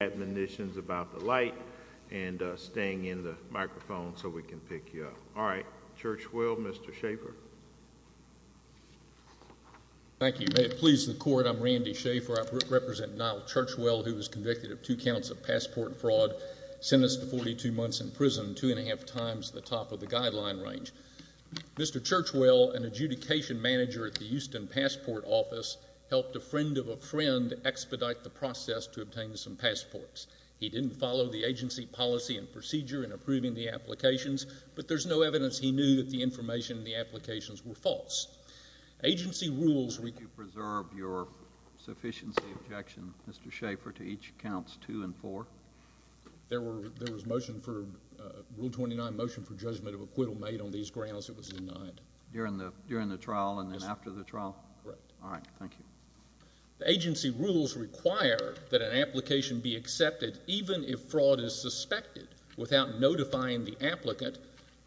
Admonitions about the light and staying in the microphone so we can pick you up. All right, Churchwell, Mr. Schaffer. Thank you. May it please the court, I'm Randy Schaffer. I represent Nyle Churchwell who was convicted of two counts of passport fraud, sentenced to 42 months in prison, two and a half times the top of the guideline range. Mr. Churchwell, an adjudication manager at the Houston Passport Office, helped a friend of a friend expedite the process to obtain some passports. He didn't follow the agency policy and procedure in approving the applications, but there's no evidence he knew that the information in the applications were false. Agency rules... Would you preserve your sufficiency objection, Mr. Schaffer, to each counts two and four? There was motion for Rule 29, motion for judgment of acquittal made on these grounds. It was denied. During the trial and then after the trial? Correct. All right, thank you. The agency rules require that an application be accepted even if fraud is suspected, without notifying the applicant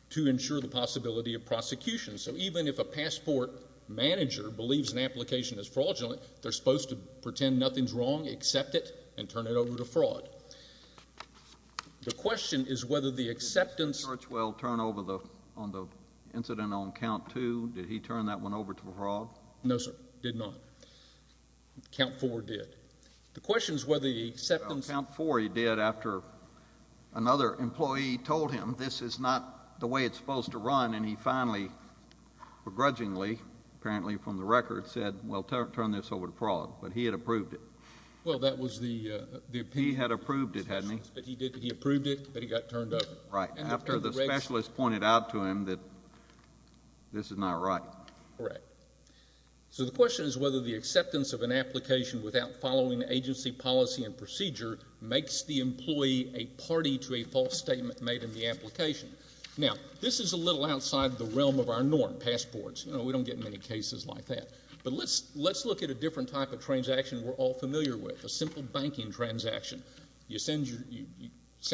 to ensure the possibility of prosecution. So even if a passport manager believes an application is fraudulent, they're supposed to pretend nothing's wrong, accept it, and turn it over to fraud. The question is whether the acceptance... Did Churchwell turn over on the incident on count two, did he turn that one over to fraud? No, sir, did not. Count four did. The question is whether the acceptance... Count four he did after another employee told him this is not the way it's supposed to run, and he finally begrudgingly, apparently from the record, said, well, turn this over to fraud, but he had approved it. Well, that was the... He had approved it, hadn't he? He approved it, but he got turned over. Right, after the specialist pointed out to him that this is not right. Correct. So the question is whether the acceptance of an application without following agency policy and procedure makes the employee a party to a false statement made in the application. Now, this is a little outside the realm of our norm, passports. You know, we don't get many cases like that, but let's look at a different type of transaction we're all familiar with, a simple banking transaction. You send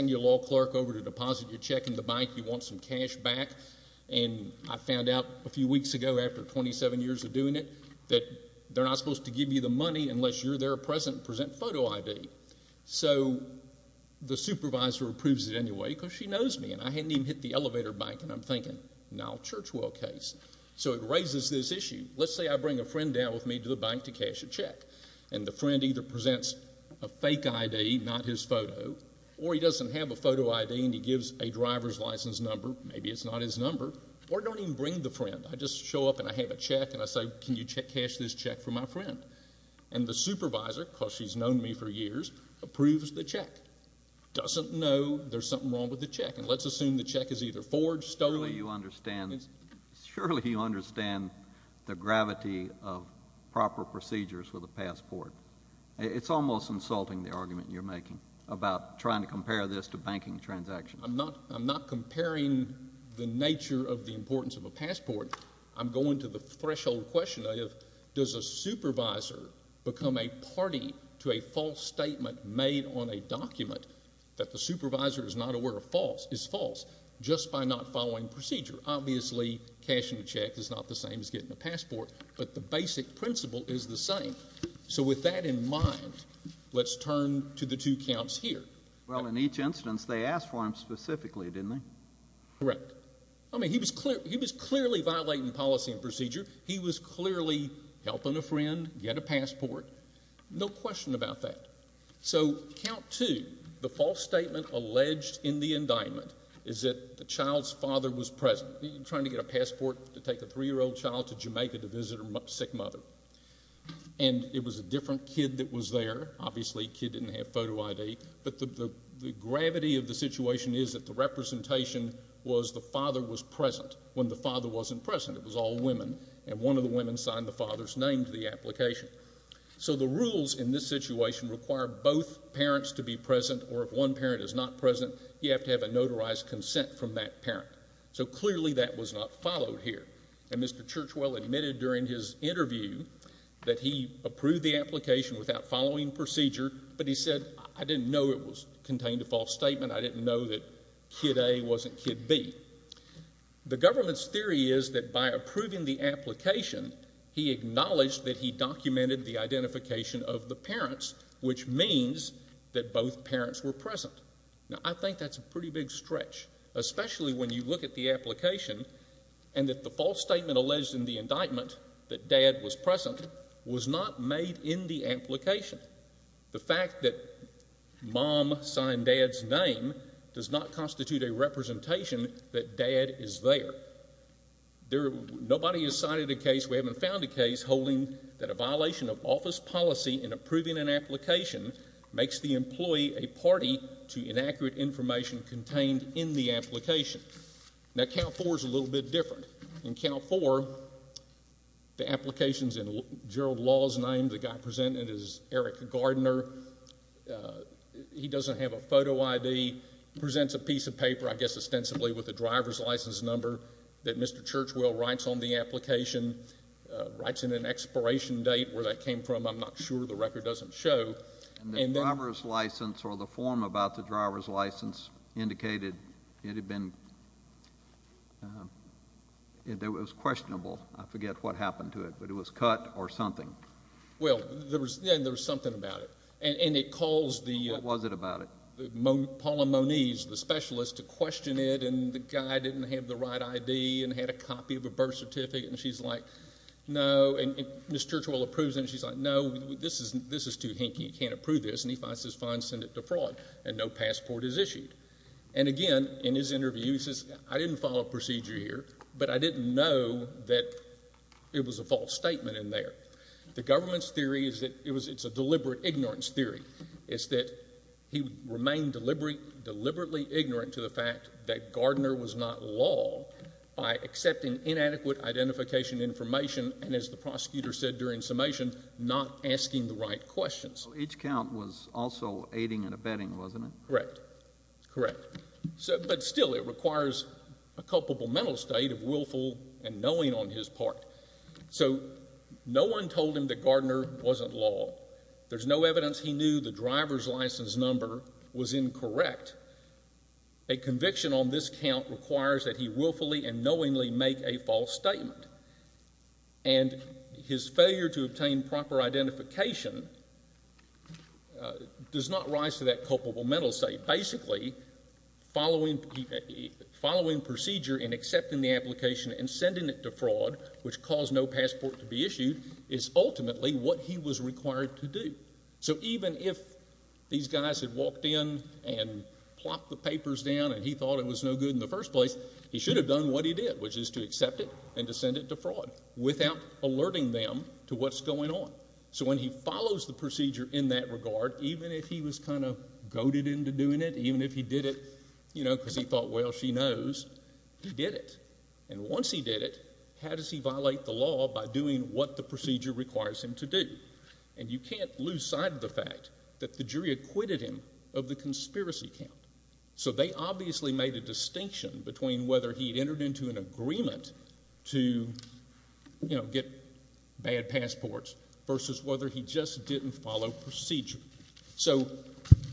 your law clerk over to deposit your check in the bank. You want some cash back, and I found out a few weeks ago, after 27 years of doing it, that they're not supposed to give you the money unless you're there present and present photo ID. So the supervisor approves it anyway because she knows me, and I hadn't even hit the elevator bank, and I'm thinking, Nile Churchwell case. So it raises this issue. Let's say I bring a friend down with me to the bank to cash a check, and the friend either presents a fake ID, not his photo, or he doesn't have a photo ID, and he gives a driver's license number. Maybe it's not his number. Or don't even bring the friend. I just show up, and I have a check, and I say, Can you cash this check for my friend? And the supervisor, because she's known me for years, approves the check. Doesn't know there's something wrong with the check, and let's assume the check is either forged, stolen. Surely you understand the gravity of proper procedures with a passport. It's almost insulting, the argument you're making, about trying to compare this to banking transactions. I'm not comparing the nature of the importance of a passport. I'm going to the threshold question of, does a supervisor become a party to a false statement made on a document that the supervisor is not aware of is false just by not following procedure. Obviously, cashing a check is not the same as getting a passport, but the basic principle is the same. So with that in mind, let's turn to the two counts here. Well, in each instance, they asked for him specifically, didn't they? Correct. I mean, he was clearly violating policy and procedure. He was clearly helping a friend get a passport. No question about that. So count two, the false statement alleged in the case is that the child's father was present. You're trying to get a passport to take a three-year-old child to Jamaica to visit her sick mother, and it was a different kid that was there. Obviously, kid didn't have photo ID, but the gravity of the situation is that the representation was the father was present when the father wasn't present. It was all women, and one of the women signed the father's name to the application. So the rules in this situation require both parents to be absent from that parent. So clearly that was not followed here, and Mr. Churchwell admitted during his interview that he approved the application without following procedure, but he said, I didn't know it contained a false statement. I didn't know that kid A wasn't kid B. The government's theory is that by approving the application, he acknowledged that he documented the identification of the parents, which means that both parents were present. Now, I think that's a pretty big stretch, especially when you look at the application and that the false statement alleged in the indictment that dad was present was not made in the application. The fact that mom signed dad's name does not constitute a representation that dad is there. Nobody has cited a case, we haven't found a case, holding that a violation of office policy in approving an application makes the employee a party to inaccurate information contained in the application. Now, Cal 4 is a little bit different. In Cal 4, the applications in Gerald Law's name, the guy presented is Eric Gardner. He doesn't have a photo ID, presents a piece of paper, I guess ostensibly with a driver's license number that Mr. Churchwell writes on the application, writes in an expiration date where that license or the form about the driver's license indicated it had been, it was questionable. I forget what happened to it, but it was cut or something. Well, there was something about it, and it caused the, what was it about it, Paula Moniz, the specialist, to question it, and the guy didn't have the right ID and had a copy of a birth certificate, and she's like, no, and Mr. Churchwell approves, and she's like, no, this is too hinky, you can't approve this, and he says, fine, send it to fraud, and no passport is issued. And again, in his interview, he says, I didn't follow procedure here, but I didn't know that it was a false statement in there. The government's theory is that it was, it's a deliberate ignorance theory, is that he remained deliberate, deliberately ignorant to the fact that Gardner was not law by accepting inadequate identification information, and as the prosecutor said during summation, not asking the right questions. Each count was also aiding and abetting, wasn't it? Correct. Correct. So, but still, it requires a culpable mental state of willful and knowing on his part. So, no one told him that Gardner wasn't law. There's no evidence he knew the driver's license number was incorrect. A conviction on this count requires that he willfully and knowingly make a false statement, and his failure to obtain proper identification does not rise to that culpable mental state. Basically, following, following procedure in accepting the application and sending it to fraud, which caused no passport to be issued, is ultimately what he was required to do. So, even if these guys had walked in and plopped the papers down, and he thought it was no good in the first place, he should have done what he did, which is to accept it and to send it to fraud without alerting them to what's going on. So, when he follows the procedure in that regard, even if he was kind of goaded into doing it, even if he did it, you know, because he thought, well, she knows, he did it. And once he did it, how does he violate the law by doing what the procedure requires him to do? And you can't lose sight of the fact that the jury acquitted him of the distinction between whether he'd entered into an agreement to, you know, get bad passports versus whether he just didn't follow procedure. So,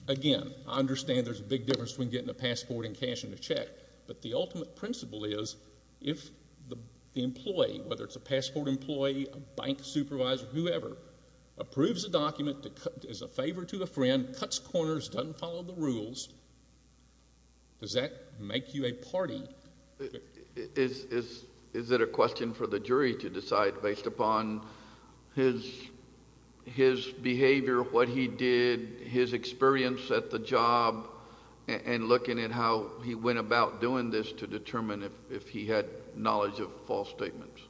again, I understand there's a big difference between getting a passport and cashing a check, but the ultimate principle is, if the employee, whether it's a passport employee, a bank supervisor, whoever, approves a document that is a favor to a friend, cuts corners, doesn't follow the rules, does that make you a party? Is it a question for the jury to decide based upon his behavior, what he did, his experience at the job, and looking at how he went about doing this to determine if he had knowledge of false statements?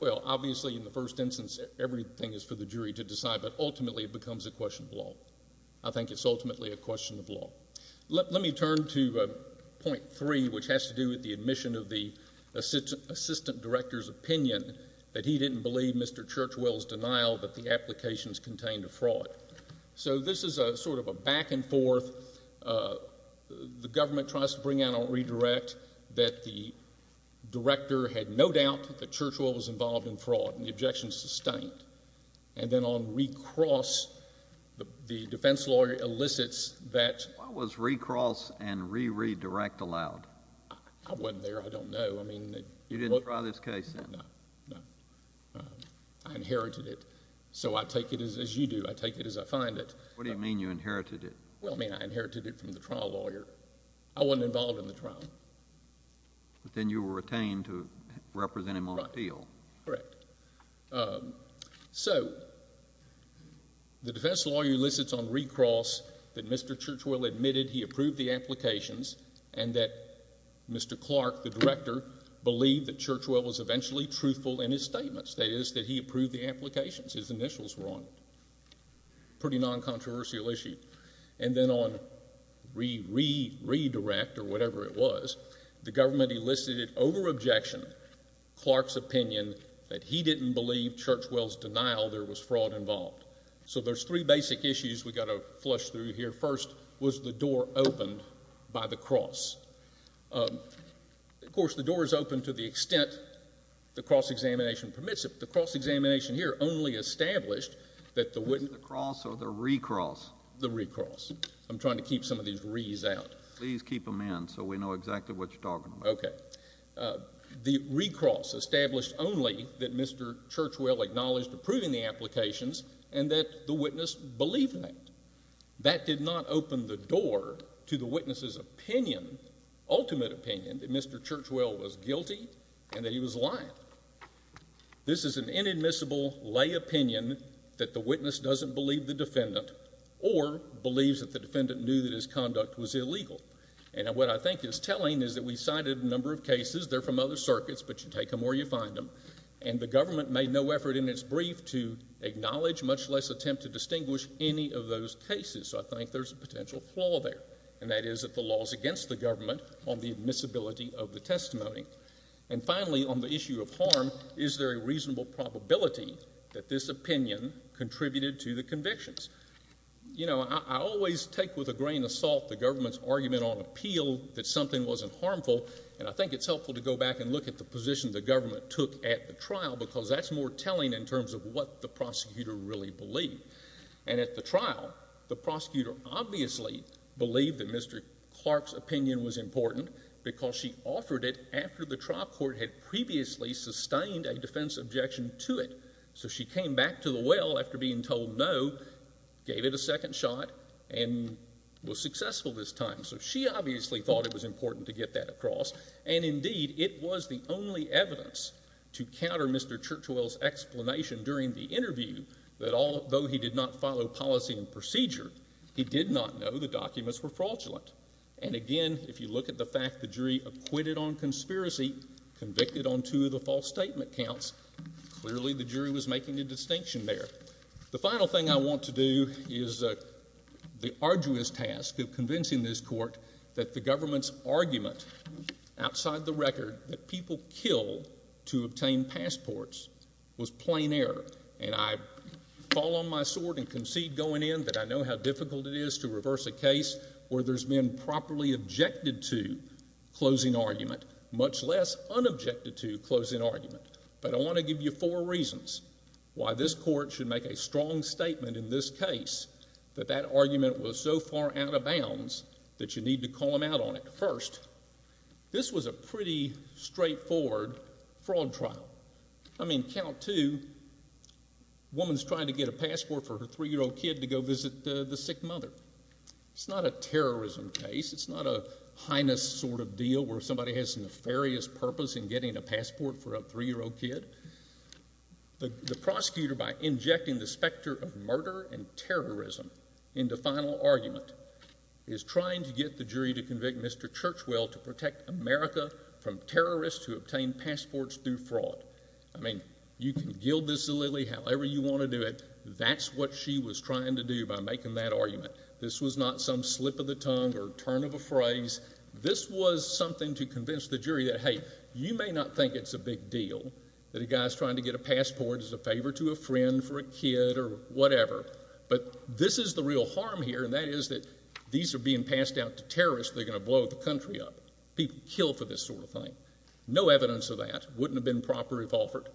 Well, obviously, in the first instance, everything is for the jury to decide, but I think it's ultimately a question of law. Let me turn to point three, which has to do with the admission of the assistant director's opinion that he didn't believe Mr. Churchwell's denial that the applications contained a fraud. So this is a sort of a back and forth. The government tries to bring out a redirect that the director had no doubt that Churchwell was involved in fraud, and the objection is sustained. And then on the second cross, the defense lawyer elicits that... Why was re-cross and re-redirect allowed? I wasn't there. I don't know. I mean... You didn't try this case? No, no. I inherited it. So I take it as you do. I take it as I find it. What do you mean you inherited it? Well, I mean I inherited it from the trial lawyer. I wasn't involved in the trial. But then you were retained to represent him on appeal. Correct. So the defense lawyer elicits on re-cross that Mr. Churchwell admitted he approved the applications and that Mr. Clark, the director, believed that Churchwell was eventually truthful in his statements. That is, that he approved the applications. His initials were on a pretty non-controversial issue. And then on re-redirect or whatever it was, the government elicited over-objection Clark's opinion that he didn't believe Churchwell's denial there was fraud involved. So there's three basic issues we've got to flush through here. First, was the door opened by the cross? Of course, the door is open to the extent the cross-examination permits it. The cross-examination here only established that the... Was it the cross or the re-cross? The re-cross. I'm trying to keep some of these re's out. Please keep them in so we know exactly what you're talking about. Okay. The re-cross established only that Mr. Churchwell acknowledged approving the applications and that the witness believed that. That did not open the door to the witness's opinion, ultimate opinion, that Mr. Churchwell was guilty and that he was lying. This is an inadmissible lay opinion that the witness doesn't believe the defendant or believes that the defendant knew that his conduct was illegal. And what I think is telling is that we cited a number of cases. They're from other circuits, but you take them where you find them. And the government made no effort in its brief to acknowledge, much less attempt to distinguish, any of those cases. So I think there's a potential flaw there. And that is that the law is against the government on the admissibility of the testimony. And finally, on the issue of harm, is there a reasonable probability that this opinion contributed to the convictions? You know, I always take with a grain of salt the government's argument on appeal that something wasn't harmful, and I think it's helpful to go back and look at the position the government took at the trial, because that's more telling in terms of what the prosecutor really believed. And at the trial, the prosecutor obviously believed that Mr. Clark's opinion was important because she offered it after the trial court had previously sustained a defense objection to it. So she came back to the well after being told no, gave it a second shot, and was successful this time. So she obviously thought it was important to get that across. And indeed, it was the only evidence to counter Mr. Churchwell's explanation during the interview that although he did not follow policy and procedure, he did not know the documents were fraudulent. And again, if you look at the fact the jury acquitted on conspiracy, convicted on two of the false statement counts, clearly the jury was making a distinction there. The final thing I want to do is the arduous task of convincing this court that the government's argument outside the record that people kill to obtain passports was plain error. And I fall on my sword and concede going in that I know how difficult it is to reverse a case where there's been properly objected to closing argument, much less unobjected to closing argument. But I want to give you four reasons why this court should make a strong statement in this case that that argument was so far out of bounds that you need to call them out on it. First, this was a pretty straightforward fraud trial. I mean, count two, woman's trying to get a passport for her three-year-old kid to go visit the sick mother. It's not a terrorism case. It's not a heinous sort of deal where somebody has a nefarious purpose in getting a passport for a three-year-old kid. The prosecutor, by injecting the specter of murder and terrorism into final argument, is trying to get the jury to convict Mr. Churchwell to protect America from terrorists who obtain passports through fraud. I mean, you can gild this a lily however you want to do it. That's what she was trying to do by making that argument. This was not some slip of the tongue or turn of a phrase. This was something to convince the jury that, hey, you may not think it's a big deal that a guy's trying to get a passport as a favor to a friend for a kid or whatever, but this is the real harm here, and that is that these are being passed out to terrorists that are going to blow the country up. People kill for this sort of thing. No evidence of that wouldn't have been proper if offered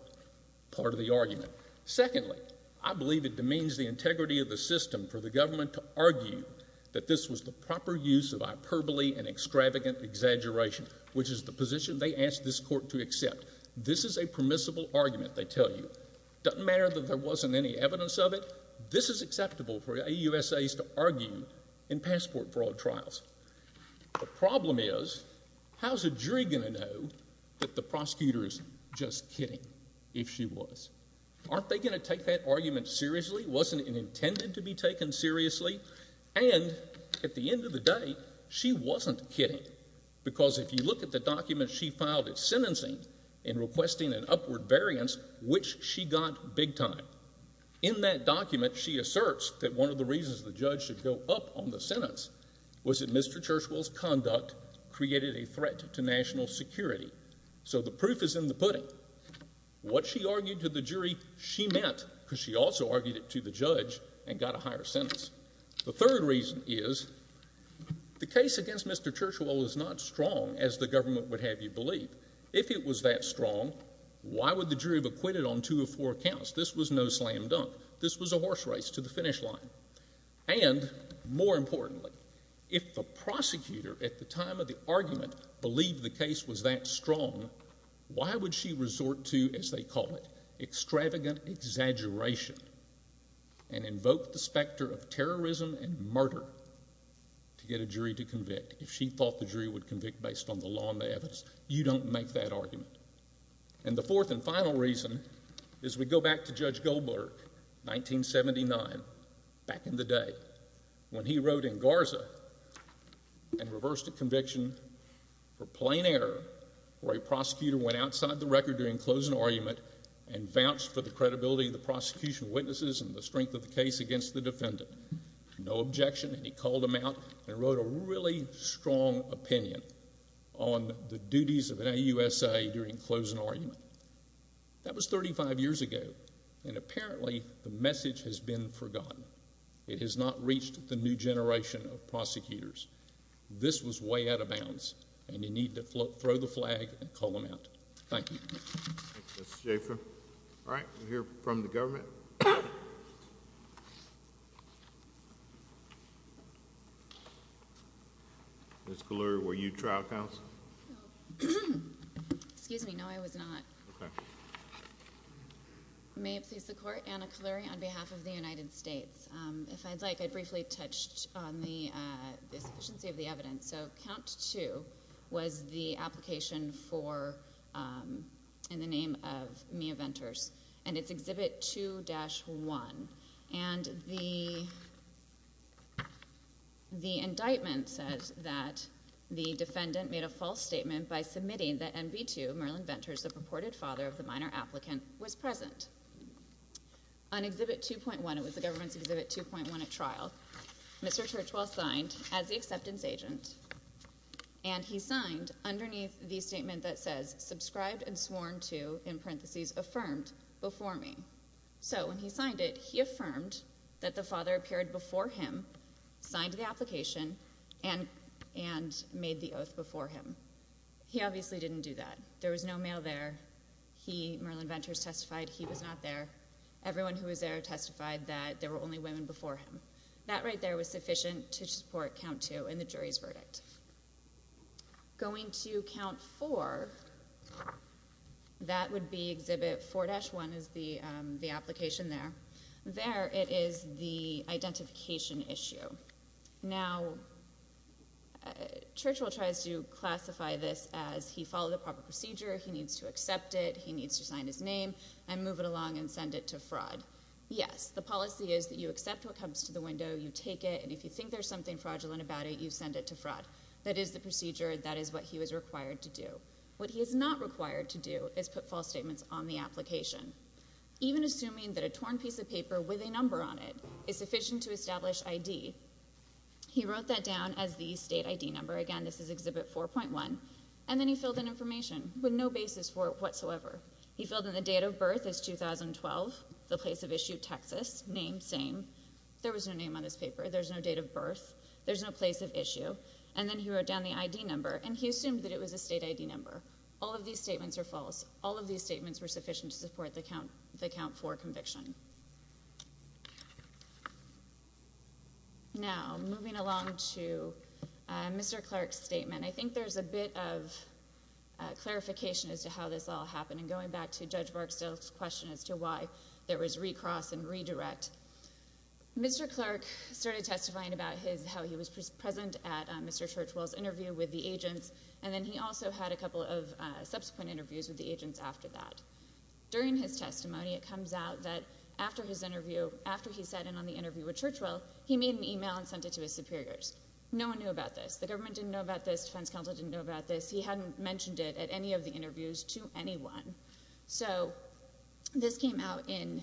part of the argument. Secondly, I believe it demeans the integrity of the system for the government to argue that this was the proper use of hyperbole and extravagant exaggeration, which is the position they asked this court to accept. This is a permissible argument, they tell you. Doesn't matter that there wasn't any evidence of it. This is acceptable for AUSAs to argue in passport fraud trials. The problem is, how's a jury going to know that the prosecutor is just kidding if she was? Aren't they going to take that argument seriously? Wasn't it intended to be taken seriously? And at the end of the day, she wasn't kidding, because if you look at the document she filed of sentencing in requesting an upward variance, which she got big time, in that document she asserts that one of the reasons the judge should go up on the sentence was that Mr. Churchwell's conduct created a threat to national security. So the proof is in the pudding. What she argued to the jury, she meant, because she also argued it to the judge and got a higher sentence. The third reason is, the case against Mr. Churchwell was not strong as the government would have you believe. If it was that strong, why would the jury have acquitted on two or four counts? This was no slam dunk. This was a horse race to the finish line. And more importantly, if the prosecutor at the time of the argument believed the case was that strong, why would she resort to, as they call it, extravagant exaggeration? And invoke the specter of terrorism and murder to get a jury to convict if she thought the jury would convict based on the law and the evidence? You don't make that argument. And the fourth and final reason is we go back to Judge Goldberg, 1979, back in the day, when he wrote in Garza and reversed a conviction for plain error where a prosecutor went outside the record during closing argument and vouched for the credibility of the prosecution witnesses and the strength of the case against the defendant. No objection. And he called them out and wrote a really strong opinion on the duties of an AUSA during closing argument. That was 35 years ago and apparently the message has been forgotten. It has not reached the new generation of prosecutors. This was way out of bounds and you need to throw the flag and call them out. Thank you. Thank you, Mr. Schaffer. All right, we'll hear from the government. Ms. Kalluri, were you trial counsel? No. Excuse me, no, I was not. May it please the court, Anna Kalluri on behalf of the United States. If I'd like, I'd briefly touch on the sufficiency of the evidence. So, count two was the application for, in the name of Mia Venters and it's Exhibit 2-1 and the indictment says that the defendant made a false statement by submitting that MB2, Merlin Venters, the purported father of the minor applicant was present. On Exhibit 2.1, it was the government's Exhibit 2.1 at trial, Mr. Churchwell signed as the acceptance agent and he signed underneath the statement that says subscribed and sworn to in parenthesis affirmed before me. So, when he signed it, he affirmed that the father appeared before him, signed the application and made the oath before him. He obviously didn't do that. There was no mail there. He, Merlin Venters, testified he was not there. Everyone who was there testified that there were only women before him. That right there was sufficient to support Count 2 in the jury's verdict. Going to Count 4, that would be Exhibit 4-1 is the application there. There it is the identification issue. Now, Churchwell tries to classify this as he followed the proper procedure, he needs to accept it, he needs to sign his name and move it along and send it to fraud. Yes, the policy is that you accept what comes to the window, you take it, and if you think there's something fraudulent about it, you send it to fraud. That is the procedure. That is what he was required to do. What he is not required to do is put false statements on the application. Even assuming that a torn piece of paper with a number on it is sufficient to establish ID. He wrote that down as the state ID number. Again, this is Exhibit 4.1. And then he filled in information with no basis for it whatsoever. He filled in the date of birth as 2012, the place of issue Texas. Name, same. There was no name on this paper. There's no date of birth. There's no place of issue. And then he wrote down the ID number and he assumed that it was a state ID number. All of these statements are false. All of these statements were sufficient to support the count for conviction. Now, moving along to Mr. Clark's statement, I think there's a bit of clarification as to how this all happened and going back to Judge Barksdale's question as to why there was recross and redirect. Mr. Clark started testifying about how he was present at Mr. Churchwell's interview with the agents. And then he also had a couple of subsequent interviews with the agents after that. During his testimony, it comes out that after his interview, after he sat in on the interview with Churchwell, he made an email and sent it to his superiors. No one knew about this. The government didn't know about this. Defense Counsel didn't know about this. He hadn't mentioned it at any of the interviews to anyone. So this came out in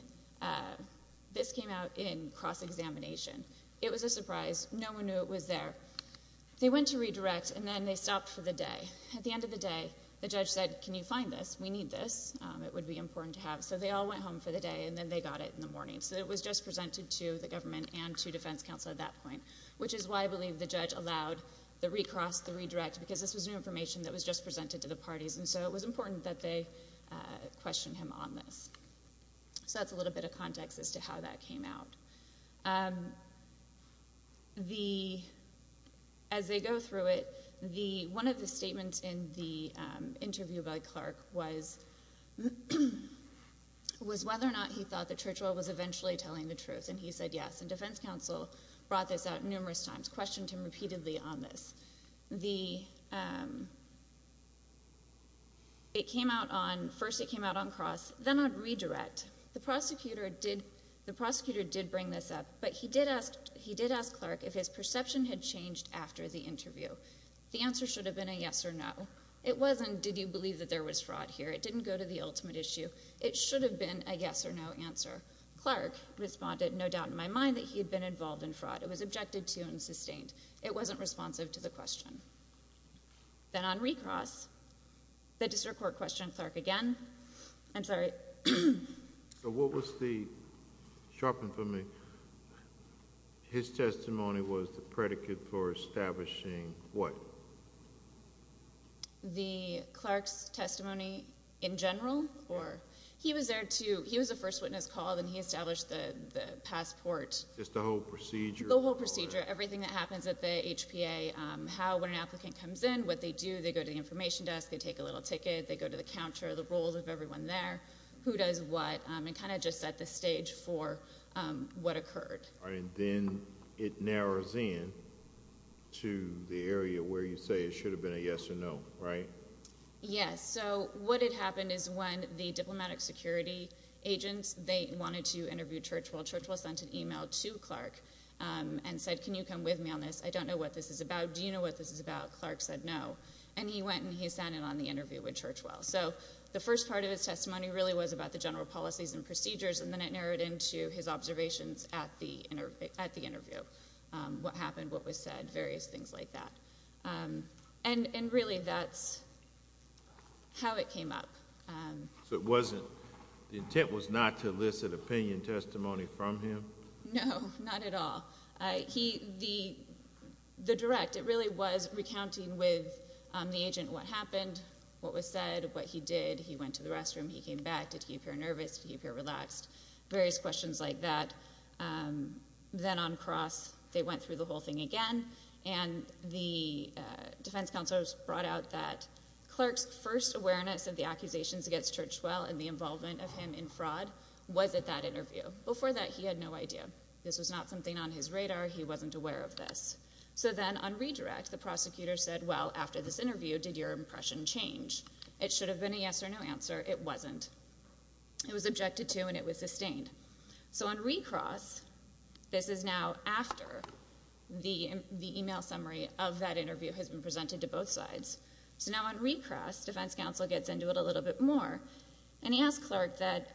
cross-examination. It was a surprise. No one knew it was there. They went to redirect, and then they stopped for the day. At the end of the day, the judge said, can you find this? We need this. It would be important to have. So they all went home for the day, and then they got it in the morning. So it was just presented to the government and to Defense Counsel at that point, which is why I believe the judge allowed the recross, the redirect, because this was new information that was just presented to the defense counsel. So that's a little bit of context as to how that came out. As they go through it, one of the statements in the interview by Clark was whether or not he thought that Churchwell was eventually telling the truth, and he said yes. And Defense Counsel brought this out numerous times, questioned him repeatedly on this. The it came out on, first it came out on cross, then on redirect. The prosecutor did bring this up, but he did ask Clark if his perception had changed after the interview. The answer should have been a yes or no. It wasn't, did you believe that there was fraud here? It didn't go to the ultimate issue. It should have been a yes or no answer. Clark responded, no doubt in my mind that he had been involved in fraud. It was objected to and sustained. It wasn't responsive to the question. Then on recross, the district court questioned Clark again. I'm sorry. So what was the sharpen for me? His testimony was the predicate for establishing what? The Clark's testimony in general or, he was there to, he was a first witness called and he established the passport. Just the whole procedure? The whole procedure. Everything that happens at the HPA, how when an applicant comes in, what they do, they go to the information desk, they take a little ticket, they go to the counter, the roles of everyone there, who does what, and kind of just set the stage for what occurred. And then it narrows in to the area where you say it should have been a yes or no, right? Yes. So what had happened is when the diplomatic security agents, they wanted to interview Churchwell. Churchwell sent an email to Clark and said, can you come with me on this? I don't know what this is about. Do you know what this is about? Clark said no. And he went and he sent it on the interview with Churchwell. So the first part of his testimony really was about the general policies and procedures and then it narrowed into his observations at the interview. What happened, what was said, various things like that. And really that's how it came up. So it wasn't, the intent was not to No, not at all. He, the direct, it really was recounting with the agent what happened, what was said, what he did, he went to the restroom, he came back, did he appear nervous, did he appear relaxed, various questions like that. Then on cross, they went through the whole thing again and the defense counselors brought out that Clark's first awareness of the accusations against Churchwell and the involvement of him in fraud was at that interview. Before that, he had no idea. This was not something on his radar. He wasn't aware of this. So then on redirect, the prosecutor said, well, after this interview, did your impression change? It should have been a yes or no answer. It wasn't. It was objected to and it was sustained. So on recross, this is now after the email summary of that interview has been presented to both sides. So now on recross, defense counsel gets into it a little bit more and he asked Clark that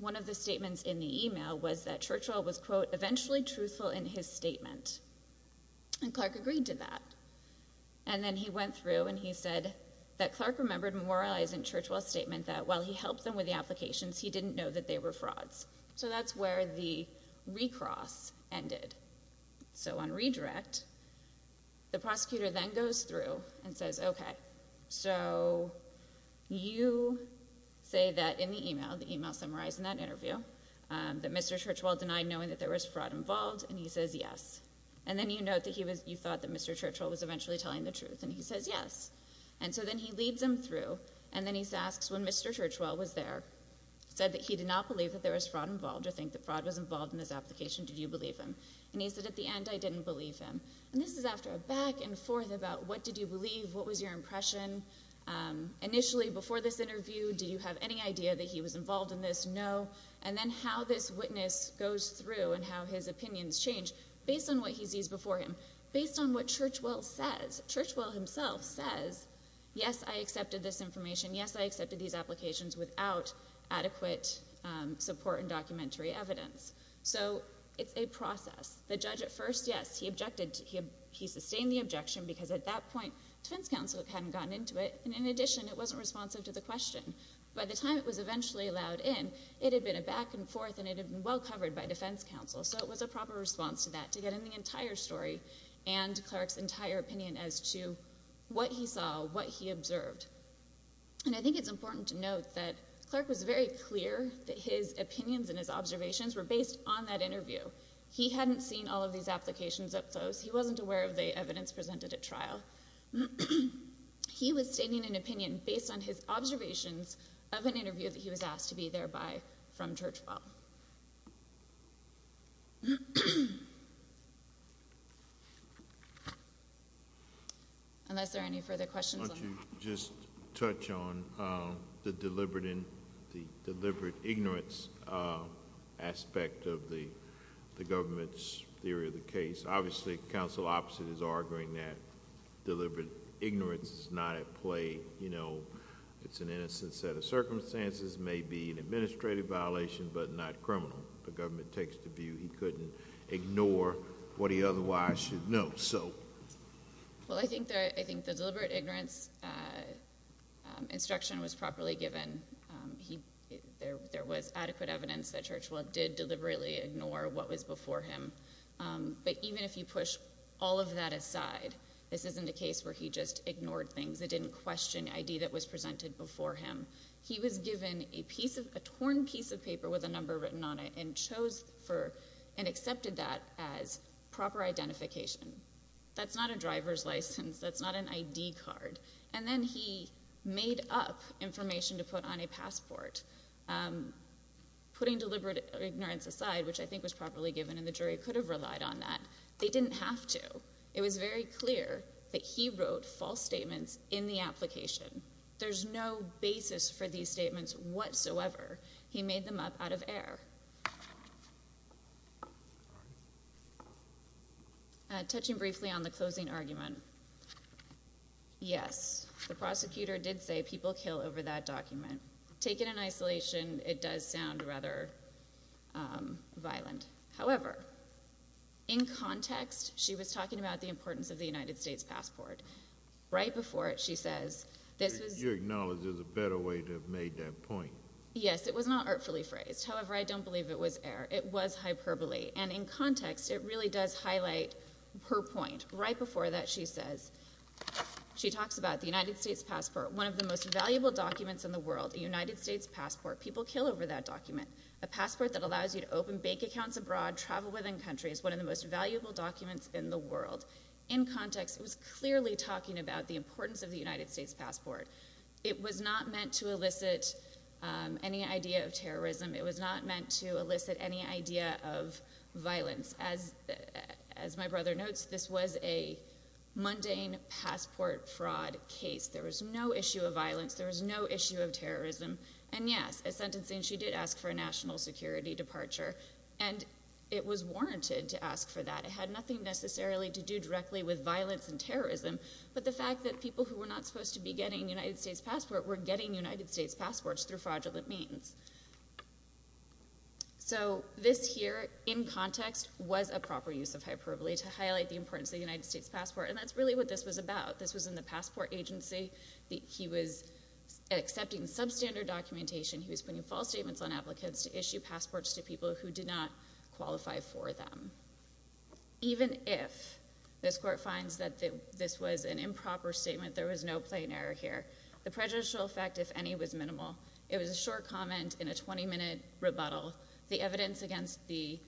one of the statements in the email was that Churchwell was, quote, eventually truthful in his statement. And Clark agreed to that. And then he went through and he said that Clark remembered moralizing Churchwell's statement that while he helped them with the applications, he didn't know that they were frauds. So that's where the recross ended. So on redirect, the prosecutor then goes through and says, okay, so you say that in the email, the email summarized in that interview, that Mr. Churchwell denied knowing that there was fraud involved and he says yes. And then you note that you thought that Mr. Churchwell was eventually telling the truth and he says yes. And so then he leads them through and then he asks when Mr. Churchwell was there, said that he did not believe that there was fraud involved or think that fraud was involved in this application, did you believe him? And he said at the end I didn't believe him. And this is after a back and forth about what did you believe, what was your impression? Initially before this interview, did you have any idea that he was involved in this? No. And then how this witness goes through and how his opinions change based on what he sees before him, based on what Churchwell says, Churchwell himself says yes I accepted this information, yes I accepted these applications without adequate support and documentary evidence. So it's a process. The judge at first, yes he objected, he sustained the objection because at that point Defense Counsel hadn't gotten into it and in addition it wasn't responsive to the question. By the time it was eventually allowed in, it had been a back and forth and it had been well covered by Defense Counsel so it was a proper response to that, to get in the entire story and Clark's entire opinion as to what he saw, what he observed. And I think it's important to note that Clark was very clear that his opinions and his observations were based on that interview. He hadn't seen all of these applications up close. He wasn't aware of the evidence presented at trial. He was stating an opinion based on his observations of an interview that he was asked to be there by from Churchwell. Unless there are any further questions. Why don't you just touch on the deliberate ignorance aspect of the government's theory of the case. Obviously counsel opposite is arguing that deliberate ignorance is not at play. It's an innocent set of circumstances maybe an administrative violation but not criminal. The government takes the view he couldn't ignore what he otherwise should know. Well I think the deliberate ignorance instruction was properly given. There was adequate evidence that Churchwell did deliberately ignore what was before him. But even if you push all of that aside this isn't a case where he just ignored things. It didn't question ID that was presented before him. He was given a torn piece of paper with a number written on it and chose and accepted that as proper identification. That's not a driver's license. That's not an ID card. And then he made up information to put on a passport. Putting deliberate ignorance aside which I think was properly given and the jury could have relied on that they didn't have to. It was very clear that he wrote false statements in the application. There's no basis for these statements whatsoever. He made them up out of air. Touching briefly on the closing argument yes the prosecutor did say people kill over that document. Taken in isolation it does sound rather violent. However in context she was talking about the importance of the United States passport. Right before it she says You acknowledge there's a better way to have made that point. Yes it was not artfully phrased. However I don't believe it was air. It was hyperbole. And in context it really does highlight her point. Right before that she says she talks about the United States passport. One of the most valuable documents in the world. A United States passport. People kill over that document. A passport that allows you to open bank accounts abroad, travel within countries. One of the most valuable documents in the world. In context it was clearly talking about the importance of the United States passport. It was not meant to elicit any idea of terrorism. It was not meant to elicit any idea of violence. As my brother notes this was a mundane passport fraud case. There was no issue of violence. There was no issue of terrorism. And yes as sentencing she did ask for a national security departure. And it was warranted to ask for that. It had nothing necessarily to do directly with violence and terrorism but the fact that people who were not supposed to be getting a United States passport were getting United States passports through fraudulent means. So this here in context was a proper use of hyperbole to highlight the importance of the United States passport and that's really what this was about. This was in the passport agency. He was accepting substandard documentation. He was putting false statements on applicants to issue passports to people who did not qualify for them. Even if this court finds that this was an improper statement there was no plain error here. The prejudicial effect if any was minimal. It was a short comment in a 20 minute rebuttal. The evidence against the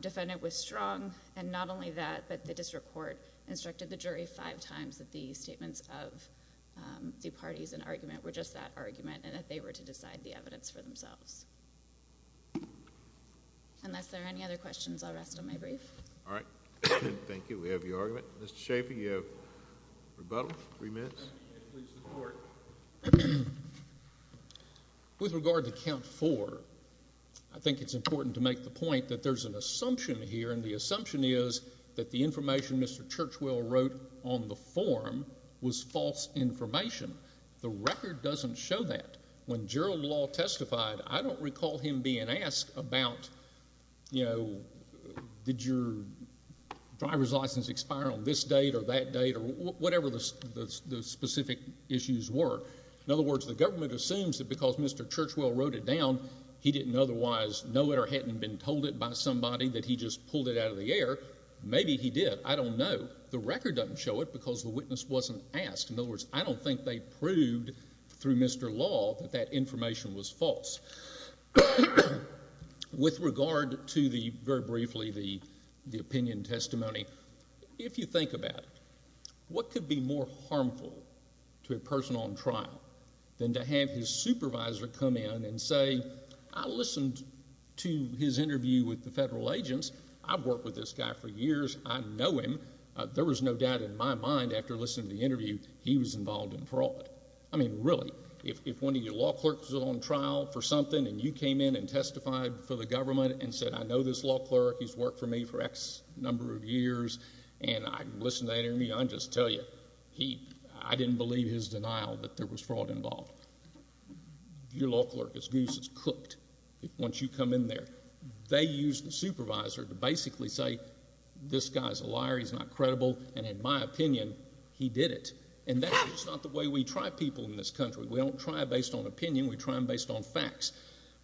defendant was strong and not only that but the district court instructed the jury five times that the statements of the parties in argument were just that argument and that they were to decide the evidence for themselves. Unless there are any other questions I'll rest on my brief. Alright. Thank you. We have your argument. Mr. Schaffer you have rebuttal. Three minutes. With regard to count four I think it's important to make the point that there's an assumption here and the assumption is that the information Mr. Churchwell wrote on the form was false information. The record doesn't show that. When Gerald Law testified I don't recall him being asked about you know did your driver's license expire on this date or that date or whatever the specific issues were. In other words the government assumes that because Mr. Churchwell wrote it down he didn't otherwise know it or hadn't been told it by somebody that he just pulled it out of the air. Maybe he did I don't know. The record doesn't show it because the witness wasn't asked. In other words I don't think they proved through Mr. Law that that information was false. With regard to the very briefly the opinion testimony if you think about it what could be more harmful to a person on trial than to have his supervisor come in and say I listened to his interview with the federal agents I've worked with this guy for years I know him. There was no doubt in my mind after listening to the interview he was involved in fraud. I mean really if one of your law clerks was on trial for something and you came in and testified for the government and said I know this law clerk he's worked for me for x number of years and I listened to that interview I'll just tell you I didn't believe his denial that there was fraud involved. Your law clerk is goose is cooked once you come in there. They use the supervisor to basically say this guy's a liar he's not credible and in my opinion he did it and that's just not the way we try people in this country. We don't try based on opinion we try them based on facts.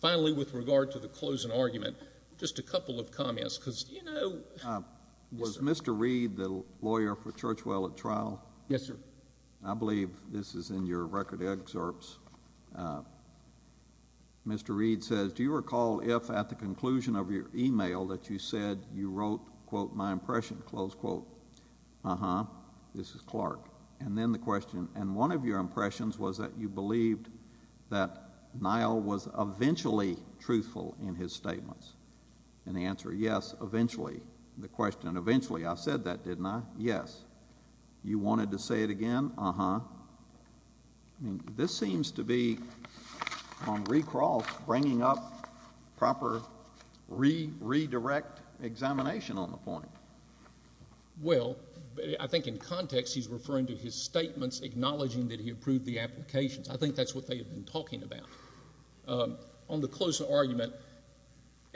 Finally with regard to the closing argument just a couple of comments because you know Was Mr. Reed the lawyer for Churchwell at trial? Yes sir. I believe this is in your record excerpts Mr. Reed says do you recall if at the conclusion of your email that you said you wrote quote my impression close quote uh-huh this is Clark and then the question and one of your impressions was that you believed that Niall was eventually truthful in his statements and the answer yes eventually the question eventually I said that didn't I? Yes. You wanted to say it again? Uh-huh. This seems to be on recrawl bringing up proper redirect examination on the point. Well I think in context he's referring to his statements acknowledging that he approved the applications. I think that's what they have been talking about. On the close argument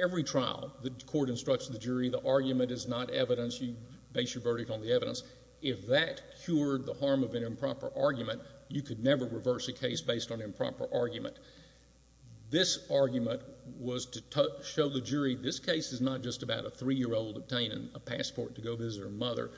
every trial the court instructs the jury the argument is not evidence you base your verdict on the evidence if that cured the harm of an improper argument you could never reverse a case based on improper argument. This argument was to show the jury this case is not just about a three year old obtaining a passport to go visit her mother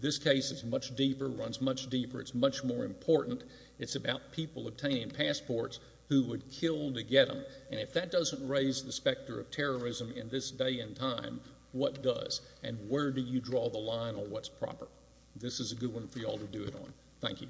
this case is much deeper it's much more important it's about people obtaining passports who would kill to get them and if that doesn't raise the specter of terrorism in this day and time what does? And where do you draw the line on what's proper? This is a good one for you all to do it on. Thank you.